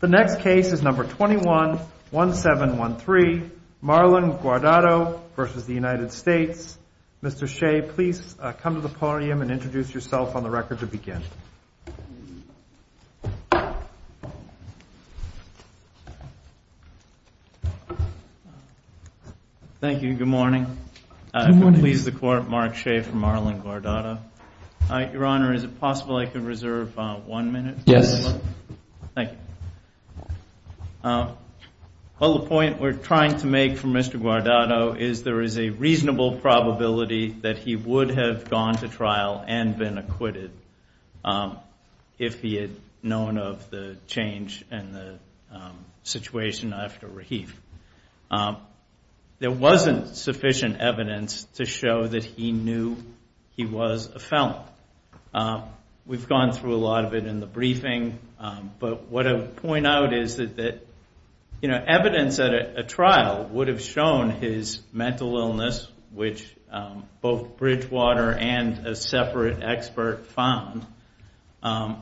The next case is number 21-1713, Marlon Guardado v. United States. Mr. Shea, please come to the podium and introduce yourself on the record to begin. Thank you. Good morning. I'm pleased to court Mark Shea for Marlon Guardado. Your Honor, is it possible I could reserve one minute? Yes. Thank you. Well, the point we're trying to make for Mr. Guardado is there is a reasonable probability that he would have gone to trial and been acquitted if he had known of the change in the situation after Rahif. There wasn't sufficient evidence to show that he knew he was a felon. We've gone through a lot of it in the briefing, but what I would point out is that evidence at a trial would have shown his mental illness, which both Bridgewater and a separate expert found. I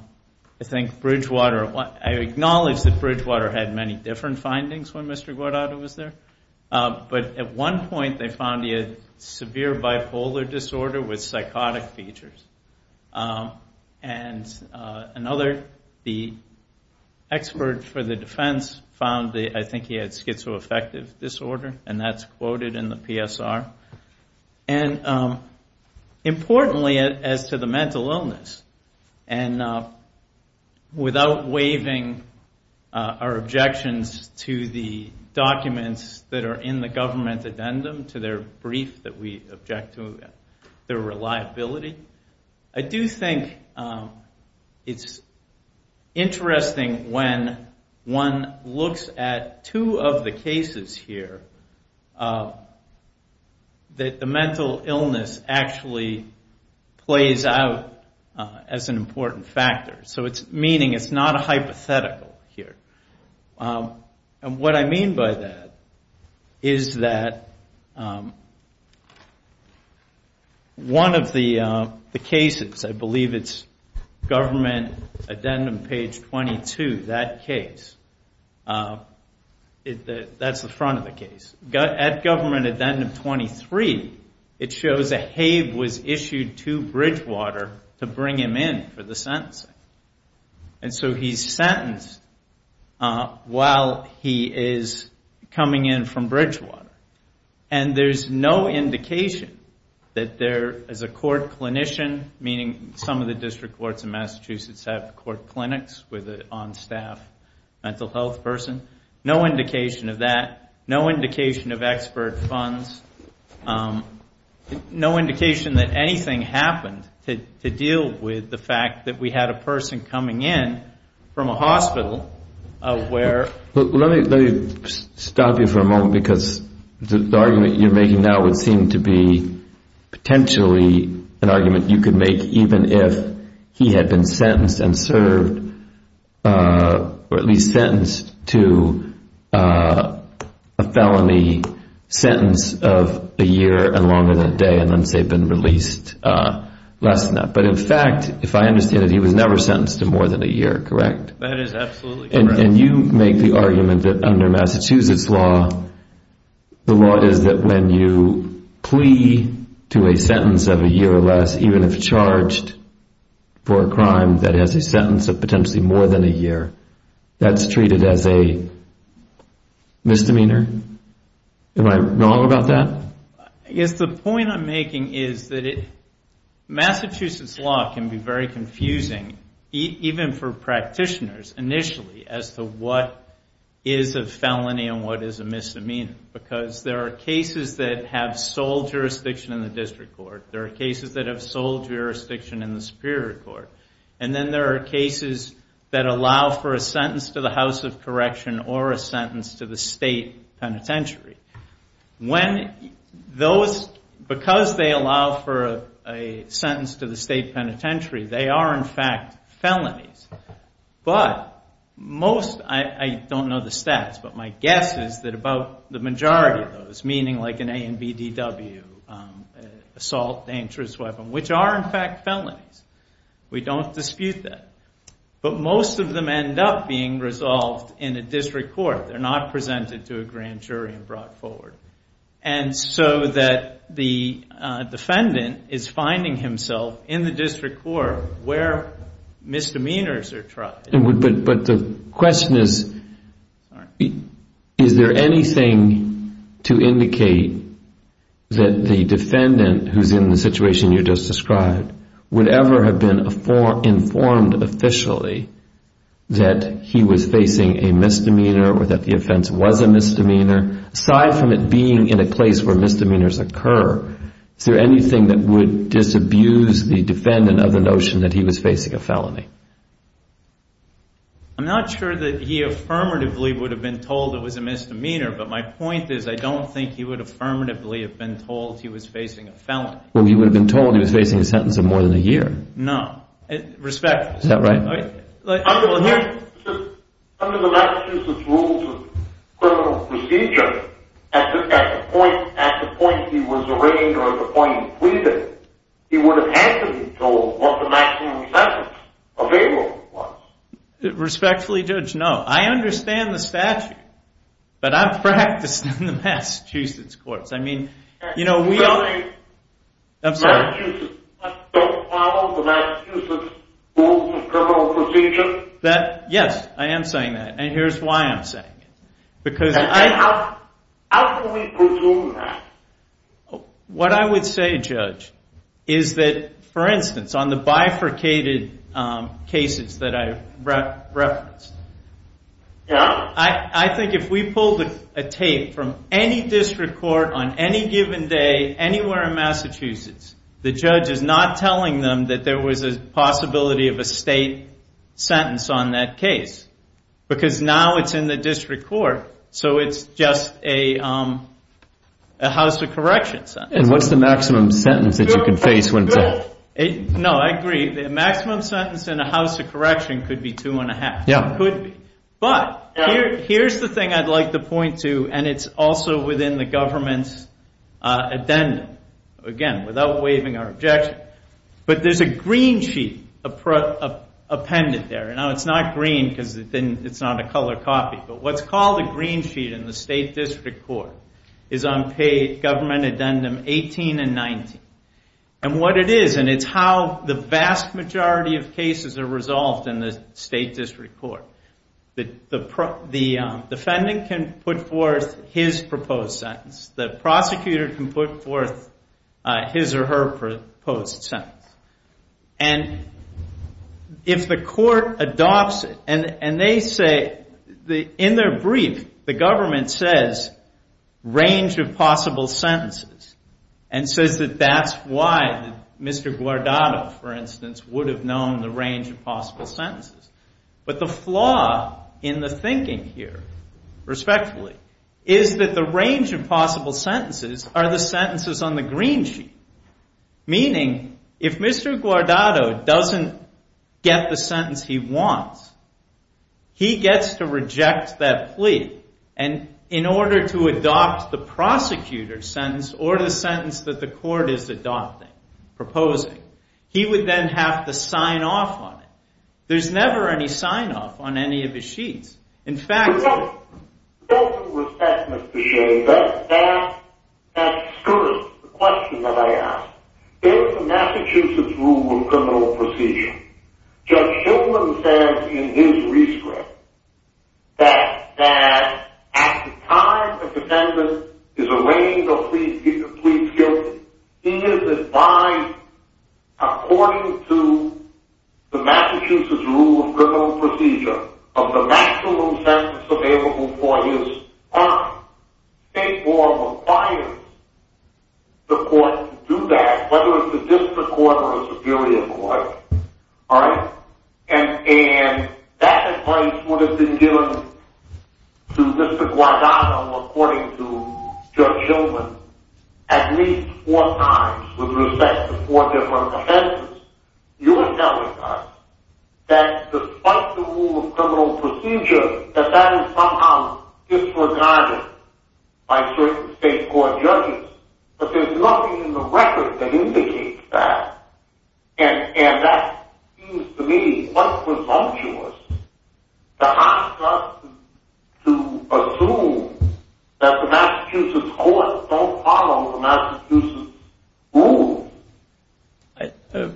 acknowledge that Bridgewater had many different findings when Mr. Guardado was there, but at one point they found he had severe bipolar disorder with psychotic features. And another, the expert for the defense, found I think he had schizoaffective disorder, and that's quoted in the PSR. And importantly as to the mental illness, and without waiving our objections to the documents that are in the government addendum, to their brief that we object to, their reliability, I do think it's interesting when one looks at two of the cases here that the mental illness actually plays out as an important factor. So it's meaning it's not a hypothetical here. And what I mean by that is that one of the cases, I believe it's government addendum page 22, that case, that's the front of the case. At government addendum 23, it shows that Habe was issued to Bridgewater to bring him in for the sentencing. And so he's sentenced while he is coming in from Bridgewater. And there's no indication that there is a court clinician, meaning some of the district courts in Massachusetts have court clinics with an on-staff mental health person. No indication of that. No indication of expert funds. No indication that anything happened to deal with the fact that we had a person coming in from a hospital where ‑‑ Let me stop you for a moment because the argument you're making now would seem to be potentially an argument you could make even if he had been sentenced and served or at least sentenced to a felony sentence of a year and longer than a day and then say been released less than that. But in fact, if I understand it, he was never sentenced to more than a year, correct? That is absolutely correct. And you make the argument that under Massachusetts law, the law is that when you plea to a sentence of a year or less, even if charged for a crime that has a sentence of potentially more than a year, that's treated as a misdemeanor. Am I wrong about that? I guess the point I'm making is that Massachusetts law can be very confusing, even for practitioners initially, as to what is a felony and what is a misdemeanor. Because there are cases that have sole jurisdiction in the district court. There are cases that have sole jurisdiction in the superior court. And then there are cases that allow for a sentence to the House of Correction or a sentence to the state penitentiary. Because they allow for a sentence to the state penitentiary, they are in fact felonies. But most, I don't know the stats, but my guess is that about the majority of those, meaning like an A and BDW, assault dangerous weapon, which are in fact felonies. We don't dispute that. But most of them end up being resolved in a district court. They're not presented to a grand jury and brought forward. And so that the defendant is finding himself in the district court where misdemeanors are tried. But the question is, is there anything to indicate that the defendant, who's in the situation you just described, would ever have been informed officially that he was facing a misdemeanor or that the offense was a misdemeanor? Aside from it being in a place where misdemeanors occur, is there anything that would disabuse the defendant of the notion that he was facing a felony? I'm not sure that he affirmatively would have been told it was a misdemeanor, but my point is I don't think he would affirmatively have been told he was facing a felony. Well, he would have been told he was facing a sentence of more than a year. No. Respectfully. Is that right? Under the Massachusetts Rules of Criminal Procedure, at the point he was arraigned or at the point he pleaded, he would have had to be told what the maximum sentence available was. Respectfully, Judge, no. I understand the statute, but I'm practicing in the Massachusetts courts. You're saying Massachusetts doesn't follow the Massachusetts Rules of Criminal Procedure? How can we presume that? Yeah. On any given day, anywhere in Massachusetts, the judge is not telling them that there was a possibility of a state sentence on that case, because now it's in the district court, so it's just a house of correction sentence. And what's the maximum sentence that you could face when told? No, I agree. The maximum sentence in a house of correction could be two and a half. It could be. But here's the thing I'd like to point to, and it's also within the government's addendum. Again, without waiving our objection, but there's a green sheet appended there. Now, it's not green because it's not a color copy, but what's called a green sheet in the state district court is on page government addendum 18 and 19. And what it is, and it's how the vast majority of cases are resolved in the state district court, the defendant can put forth his proposed sentence. The prosecutor can put forth his or her proposed sentence. And if the court adopts it, and they say, in their brief, the government says, range of possible sentences, and says that that's why Mr. Guardado, for instance, would have known the range of possible sentences. But the flaw in the thinking here, respectfully, is that the range of possible sentences are the sentences on the green sheet. Meaning, if Mr. Guardado doesn't get the sentence he wants, he gets to reject that plea. And in order to adopt the prosecutor's sentence or the sentence that the court is adopting, proposing, he would then have to sign off on it. There's never any sign-off on any of his sheets. In fact... There's some resentment, Mr. Shea, that skirts the question that I ask. In the Massachusetts Rule of Criminal Procedure, Judge Shillman says in his rescript, that at the time the defendant is arraigned or pleads guilty, he is advised, according to the Massachusetts Rule of Criminal Procedure, of the maximum sentence available for his crime. State law requires the court to do that, whether it's a district court or a superior court. And that advice would have been given to Mr. Guardado, according to Judge Shillman, at least four times with respect to four different offenses. You're telling us that despite the Rule of Criminal Procedure, that that is somehow disregarded by certain state court judges. But there's nothing in the record that indicates that. And that seems to me quite presumptuous to ask us to assume that the Massachusetts courts don't follow the Massachusetts rules.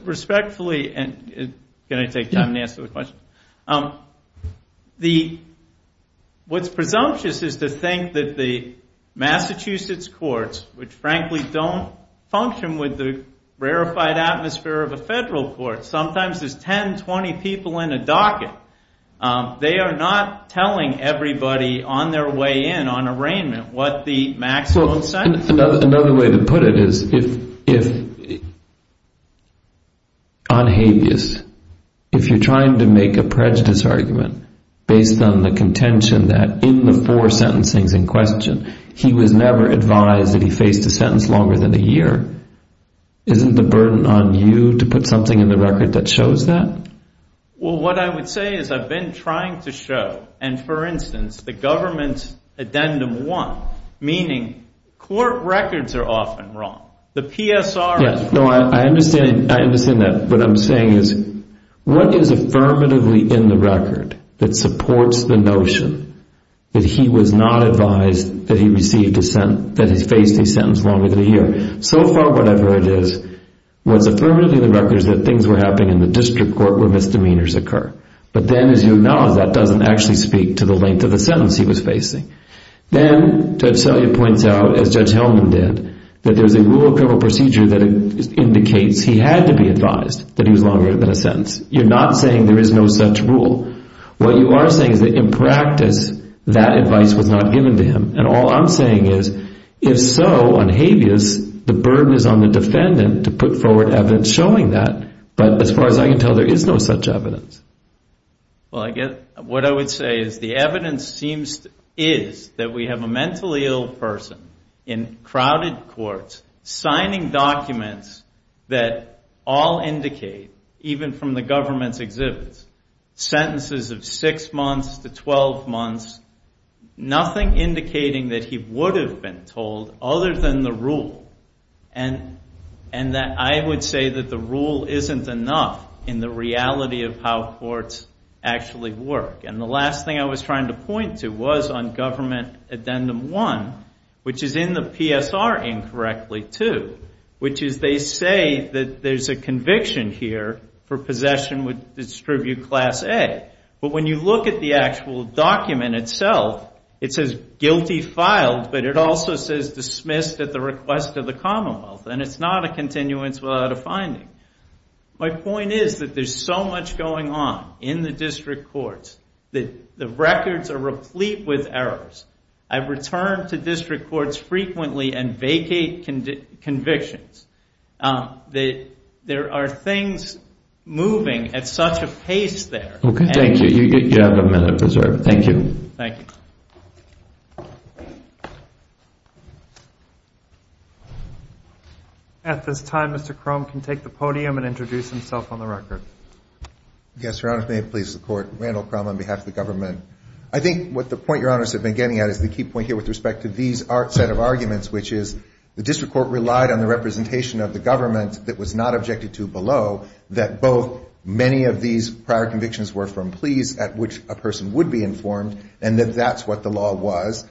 Respectfully, and can I take time to answer the question? What's presumptuous is to think that the Massachusetts courts, which frankly don't function with the rarefied atmosphere of a federal court, sometimes there's 10, 20 people in a docket. They are not telling everybody on their way in, on arraignment, what the maximum sentence is. Another way to put it is if on habeas, if you're trying to make a prejudice argument based on the contention that in the four sentencings in question, he was never advised that he faced a sentence longer than a year, isn't the burden on you to put something in the record that shows that? Well, what I would say is I've been trying to show, and for instance, the government's Addendum 1, meaning court records are often wrong. The PSR is wrong. I understand that. What I'm saying is what is affirmatively in the record that supports the notion that he was not advised that he faced a sentence longer than a year? So far, what I've heard is what's affirmatively in the record is that things were happening in the district court where misdemeanors occur. But then as you acknowledge, that doesn't actually speak to the length of the sentence he was facing. Then Judge Selye points out, as Judge Hellman did, that there's a rule of criminal procedure that indicates he had to be advised that he was longer than a sentence. You're not saying there is no such rule. What you are saying is that in practice, that advice was not given to him, and all I'm saying is if so, unhabeas, the burden is on the defendant to put forward evidence showing that. But as far as I can tell, there is no such evidence. Well, what I would say is the evidence seems to be that we have a mentally ill person in crowded courts signing documents that all indicate, even from the government's exhibits, sentences of 6 months to 12 months. Nothing indicating that he would have been told other than the rule. And I would say that the rule isn't enough in the reality of how courts actually work. And the last thing I was trying to point to was on Government Addendum 1, which is in the PSR incorrectly, too, which is they say that there's a conviction here for possession with Distribute Class A. But when you look at the actual document itself, it says guilty filed, but it also says dismissed at the request of the Commonwealth. And it's not a continuance without a finding. My point is that there's so much going on in the district courts that the records are replete with errors. I've returned to district courts frequently and vacate convictions. There are things moving at such a pace there. Okay, thank you. You have a minute preserved. Thank you. Thank you. At this time, Mr. Crum can take the podium and introduce himself on the record. Yes, Your Honor, if it may please the Court. Randall Crum on behalf of the government. I think what the point Your Honors have been getting at is the key point here with respect to these set of arguments, which is the district court relied on the representation of the government that was not objected to below, that both many of these prior convictions were from pleas at which a person would be informed, and that that's what the law was.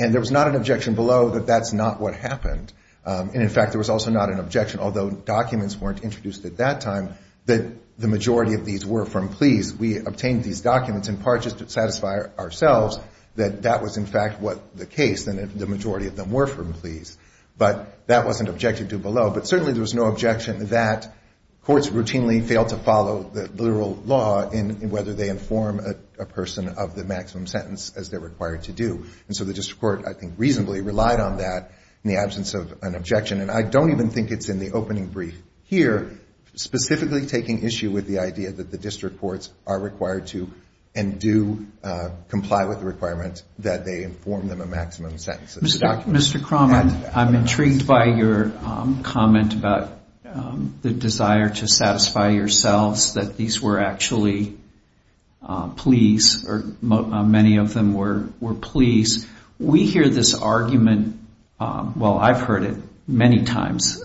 And there was not an objection below that that's not what happened. And, in fact, there was also not an objection, although documents weren't introduced at that time, that the majority of these were from pleas. We obtained these documents in part just to satisfy ourselves that that was, in fact, what the case, and that the majority of them were from pleas. But that wasn't objected to below. But certainly there was no objection that courts routinely fail to follow the literal law in whether they inform a person of the maximum sentence as they're required to do. And so the district court, I think, reasonably relied on that in the absence of an objection. And I don't even think it's in the opening brief here, specifically taking issue with the idea that the district courts are required to and do comply with the requirement that they inform them of maximum sentences. Mr. Crommett, I'm intrigued by your comment about the desire to satisfy yourselves that these were actually pleas, or many of them were pleas. We hear this argument, well, I've heard it many times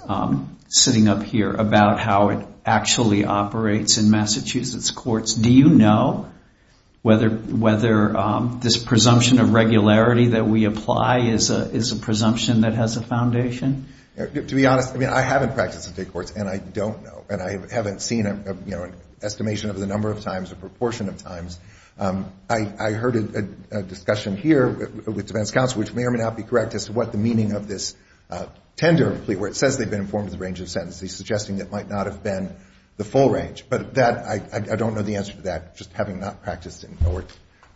sitting up here, about how it actually operates in Massachusetts courts. Do you know whether this presumption of regularity that we apply is a presumption that has a foundation? To be honest, I mean, I haven't practiced in state courts, and I don't know, and I haven't seen an estimation of the number of times or proportion of times. I heard a discussion here with defense counsel, which may or may not be correct as to what the meaning of this tender plea, where it says they've been informed of the range of sentences, suggesting it might not have been the full range. But I don't know the answer to that, just having not practiced it or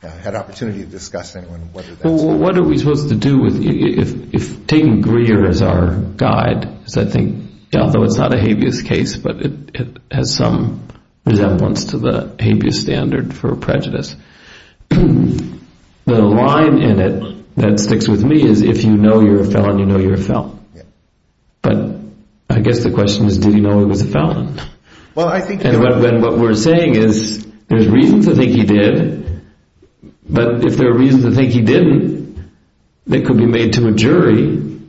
had opportunity to discuss it. Well, what are we supposed to do if taking Greer as our guide, because I think, although it's not a habeas case, but it has some resemblance to the habeas standard for prejudice. The line in it that sticks with me is if you know you're a felon, you know you're a felon. But I guess the question is, did he know he was a felon? And what we're saying is there's reason to think he did, but if there are reasons to think he didn't, it could be made to a jury.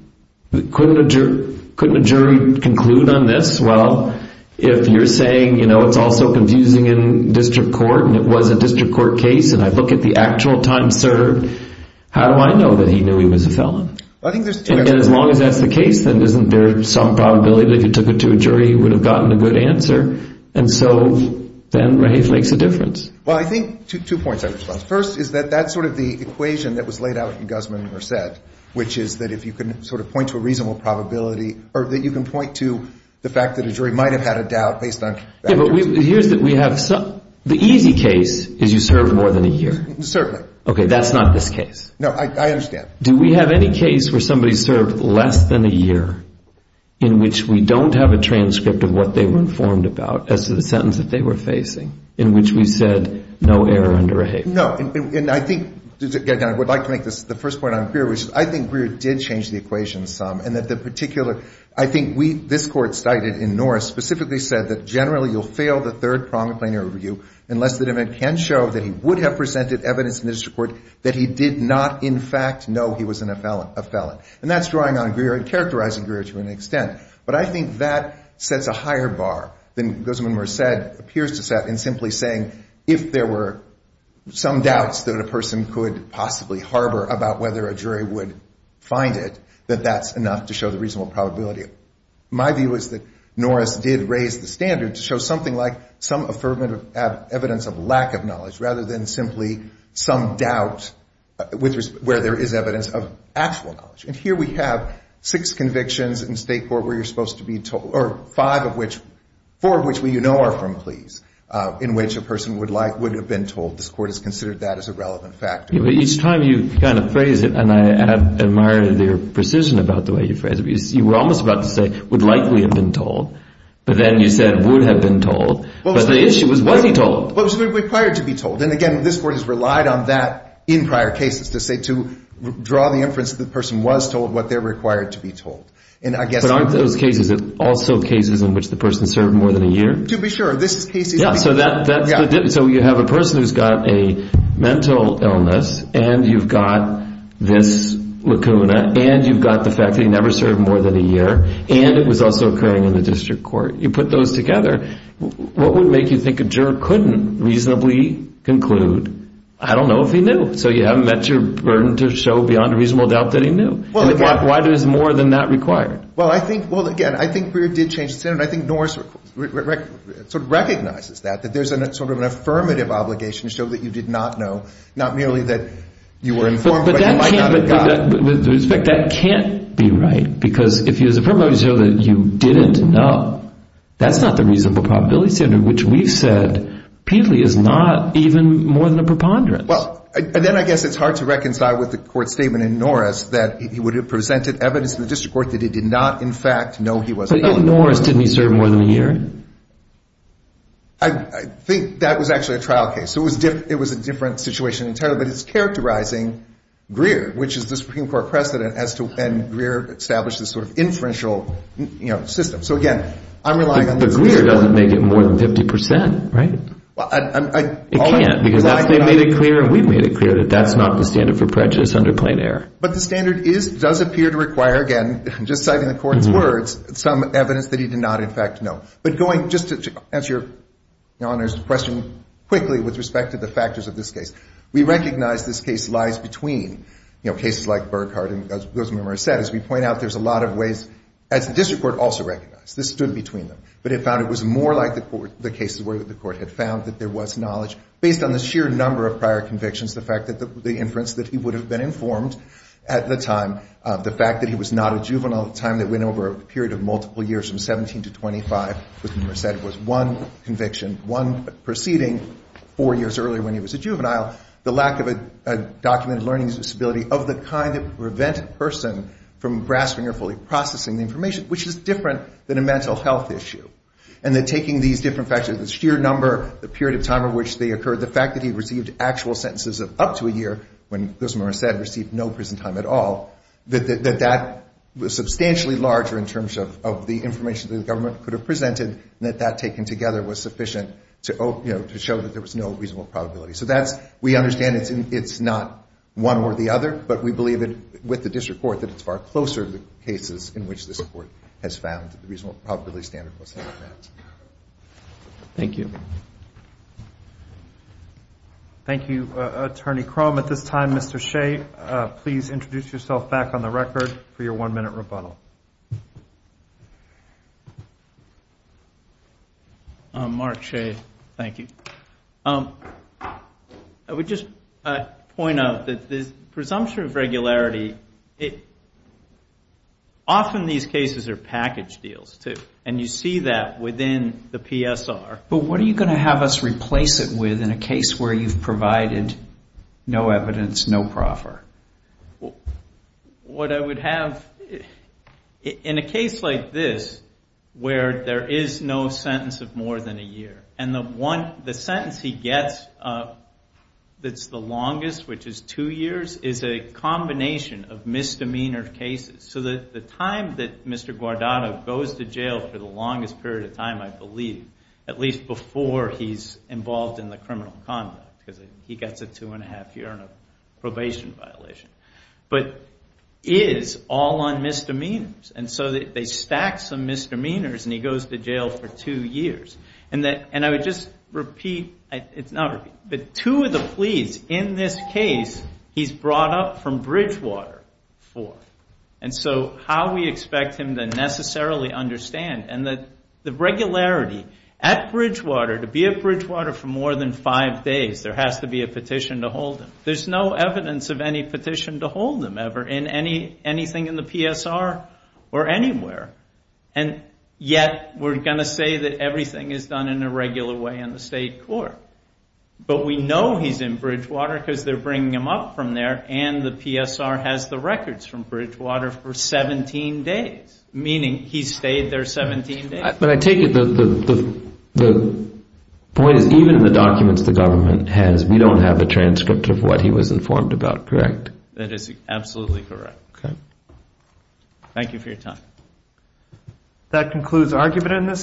Couldn't a jury conclude on this? Well, if you're saying, you know, it's all so confusing in district court and it was a district court case and I look at the actual time served, how do I know that he knew he was a felon? And as long as that's the case, then isn't there some probability that if you took it to a jury, he would have gotten a good answer? And so then Raheith makes a difference. Well, I think two points. First is that that's sort of the equation that was laid out in Guzman and Merced, which is that if you can sort of point to a reasonable probability or that you can point to the fact that a jury might have had a doubt based on Yeah, but here's the thing. The easy case is you served more than a year. Certainly. Okay, that's not this case. No, I understand. Do we have any case where somebody served less than a year in which we don't have a transcript of what they were informed about as to the sentence that they were facing in which we said no error under Raheith? No, and I think, again, I would like to make the first point on Greer, which I think Greer did change the equation some, and that the particular I think we, this Court cited in Norris, specifically said that generally you'll fail the third pronged plainer review unless the defendant can show that he would have presented evidence in this report that he did not in fact know he was a felon. And that's drawing on Greer and characterizing Greer to an extent. But I think that sets a higher bar than Guzman and Merced appears to set in simply saying if there were some doubts that a person could possibly harbor about whether a jury would find it, that that's enough to show the reasonable probability. My view is that Norris did raise the standard to show something like some affirmative evidence of lack of knowledge rather than simply some doubt where there is evidence of actual knowledge. And here we have six convictions in state court where you're supposed to be told or five of which, four of which we know are from pleas in which a person would have been told. This Court has considered that as a relevant factor. Each time you kind of phrase it, and I admire your precision about the way you phrase it, because you were almost about to say would likely have been told. But then you said would have been told. But the issue was was he told? Well, he was required to be told. And, again, this Court has relied on that in prior cases to say to draw the inference that the person was told what they're required to be told. But aren't those cases also cases in which the person served more than a year? To be sure. So you have a person who's got a mental illness, and you've got this lacuna, and you've got the fact that he never served more than a year, and it was also occurring in the district court. You put those together, what would make you think a juror couldn't reasonably conclude I don't know if he knew? So you haven't met your burden to show beyond a reasonable doubt that he knew. And why there's more than that required? Well, again, I think Breyer did change the standard. I think Norris sort of recognizes that, that there's sort of an affirmative obligation to show that you did not know, not merely that you were informed, but you might not have gotten it. But with respect, that can't be right, because if he was affirmed, but you show that you didn't know, that's not the reasonable probability standard, which we've said is not even more than a preponderance. Well, then I guess it's hard to reconcile with the Court's statement in Norris that he would have presented evidence to the district court that he did not, in fact, know he was ill. But in Norris, didn't he serve more than a year? I think that was actually a trial case. It was a different situation entirely, but it's characterizing Greer, which is the Supreme Court precedent, as to when Greer established this sort of inferential system. So, again, I'm relying on this. But Greer doesn't make it more than 50%, right? It can't, because they made it clear and we've made it clear that that's not the standard for prejudice under plain error. But the standard is, does appear to require, again, just citing the Court's words, some evidence that he did not, in fact, know. But going, just to answer Your Honor's question quickly with respect to the factors of this case, we recognize this case lies between, you know, cases like Burghardt and those members said. As we point out, there's a lot of ways, as the district court also recognized. This stood between them. But it found it was more like the cases where the Court had found that there was knowledge, based on the sheer number of prior convictions, the fact that the inference that he would have been informed at the time, the fact that he was not a juvenile at a time that went over a period of multiple years, from 17 to 25, was one conviction, one proceeding, four years earlier when he was a juvenile, the lack of a documented learning disability of the kind that would prevent a person from grasping or fully processing the information, which is different than a mental health issue. And that taking these different factors, the sheer number, the period of time out of which they occurred, the fact that he received actual sentences of up to a year when those members said received no prison time at all, that that was substantially larger in terms of the information that the government could have presented, and that that taken together was sufficient to, you know, to show that there was no reasonable probability. So that's, we understand it's not one or the other, but we believe that with the district court, that it's far closer to the cases in which this Court has found that the reasonable probability standard was not met. Thank you. Thank you, Attorney Crum. At this time, Mr. Shea, please introduce yourself back on the record for your one-minute rebuttal. Mark Shea. Thank you. I would just point out that the presumption of regularity, often these cases are within the PSR. But what are you going to have us replace it with in a case where you've provided no evidence, no proffer? What I would have, in a case like this, where there is no sentence of more than a year, and the one, the sentence he gets that's the longest, which is two years, is a combination of misdemeanor cases. So the time that Mr. Guardado goes to jail for the longest period of time, I believe, at least before he's involved in the criminal conduct, because he gets a two-and-a-half year probation violation, but is all on misdemeanors. And so they stack some misdemeanors, and he goes to jail for two years. And I would just repeat, it's not repeat, but two of the pleas in this case he's brought up from Bridgewater for. And so how we expect him to necessarily understand, and the regularity, at Bridgewater, to be at Bridgewater for more than five days, there has to be a petition to hold him. There's no evidence of any petition to hold him, ever, in anything in the PSR, or anywhere. And yet, we're going to say that everything is done in a regular way in the state court. But we know he's in Bridgewater because they're bringing him up from there, and the PSR has the records from Bridgewater for 17 days, meaning he stayed there 17 days. But I take it the point is, even in the documents the government has, we don't have a transcript of what he was informed about, correct? That is absolutely correct. Okay. Thank you for your time. That concludes argument in this case.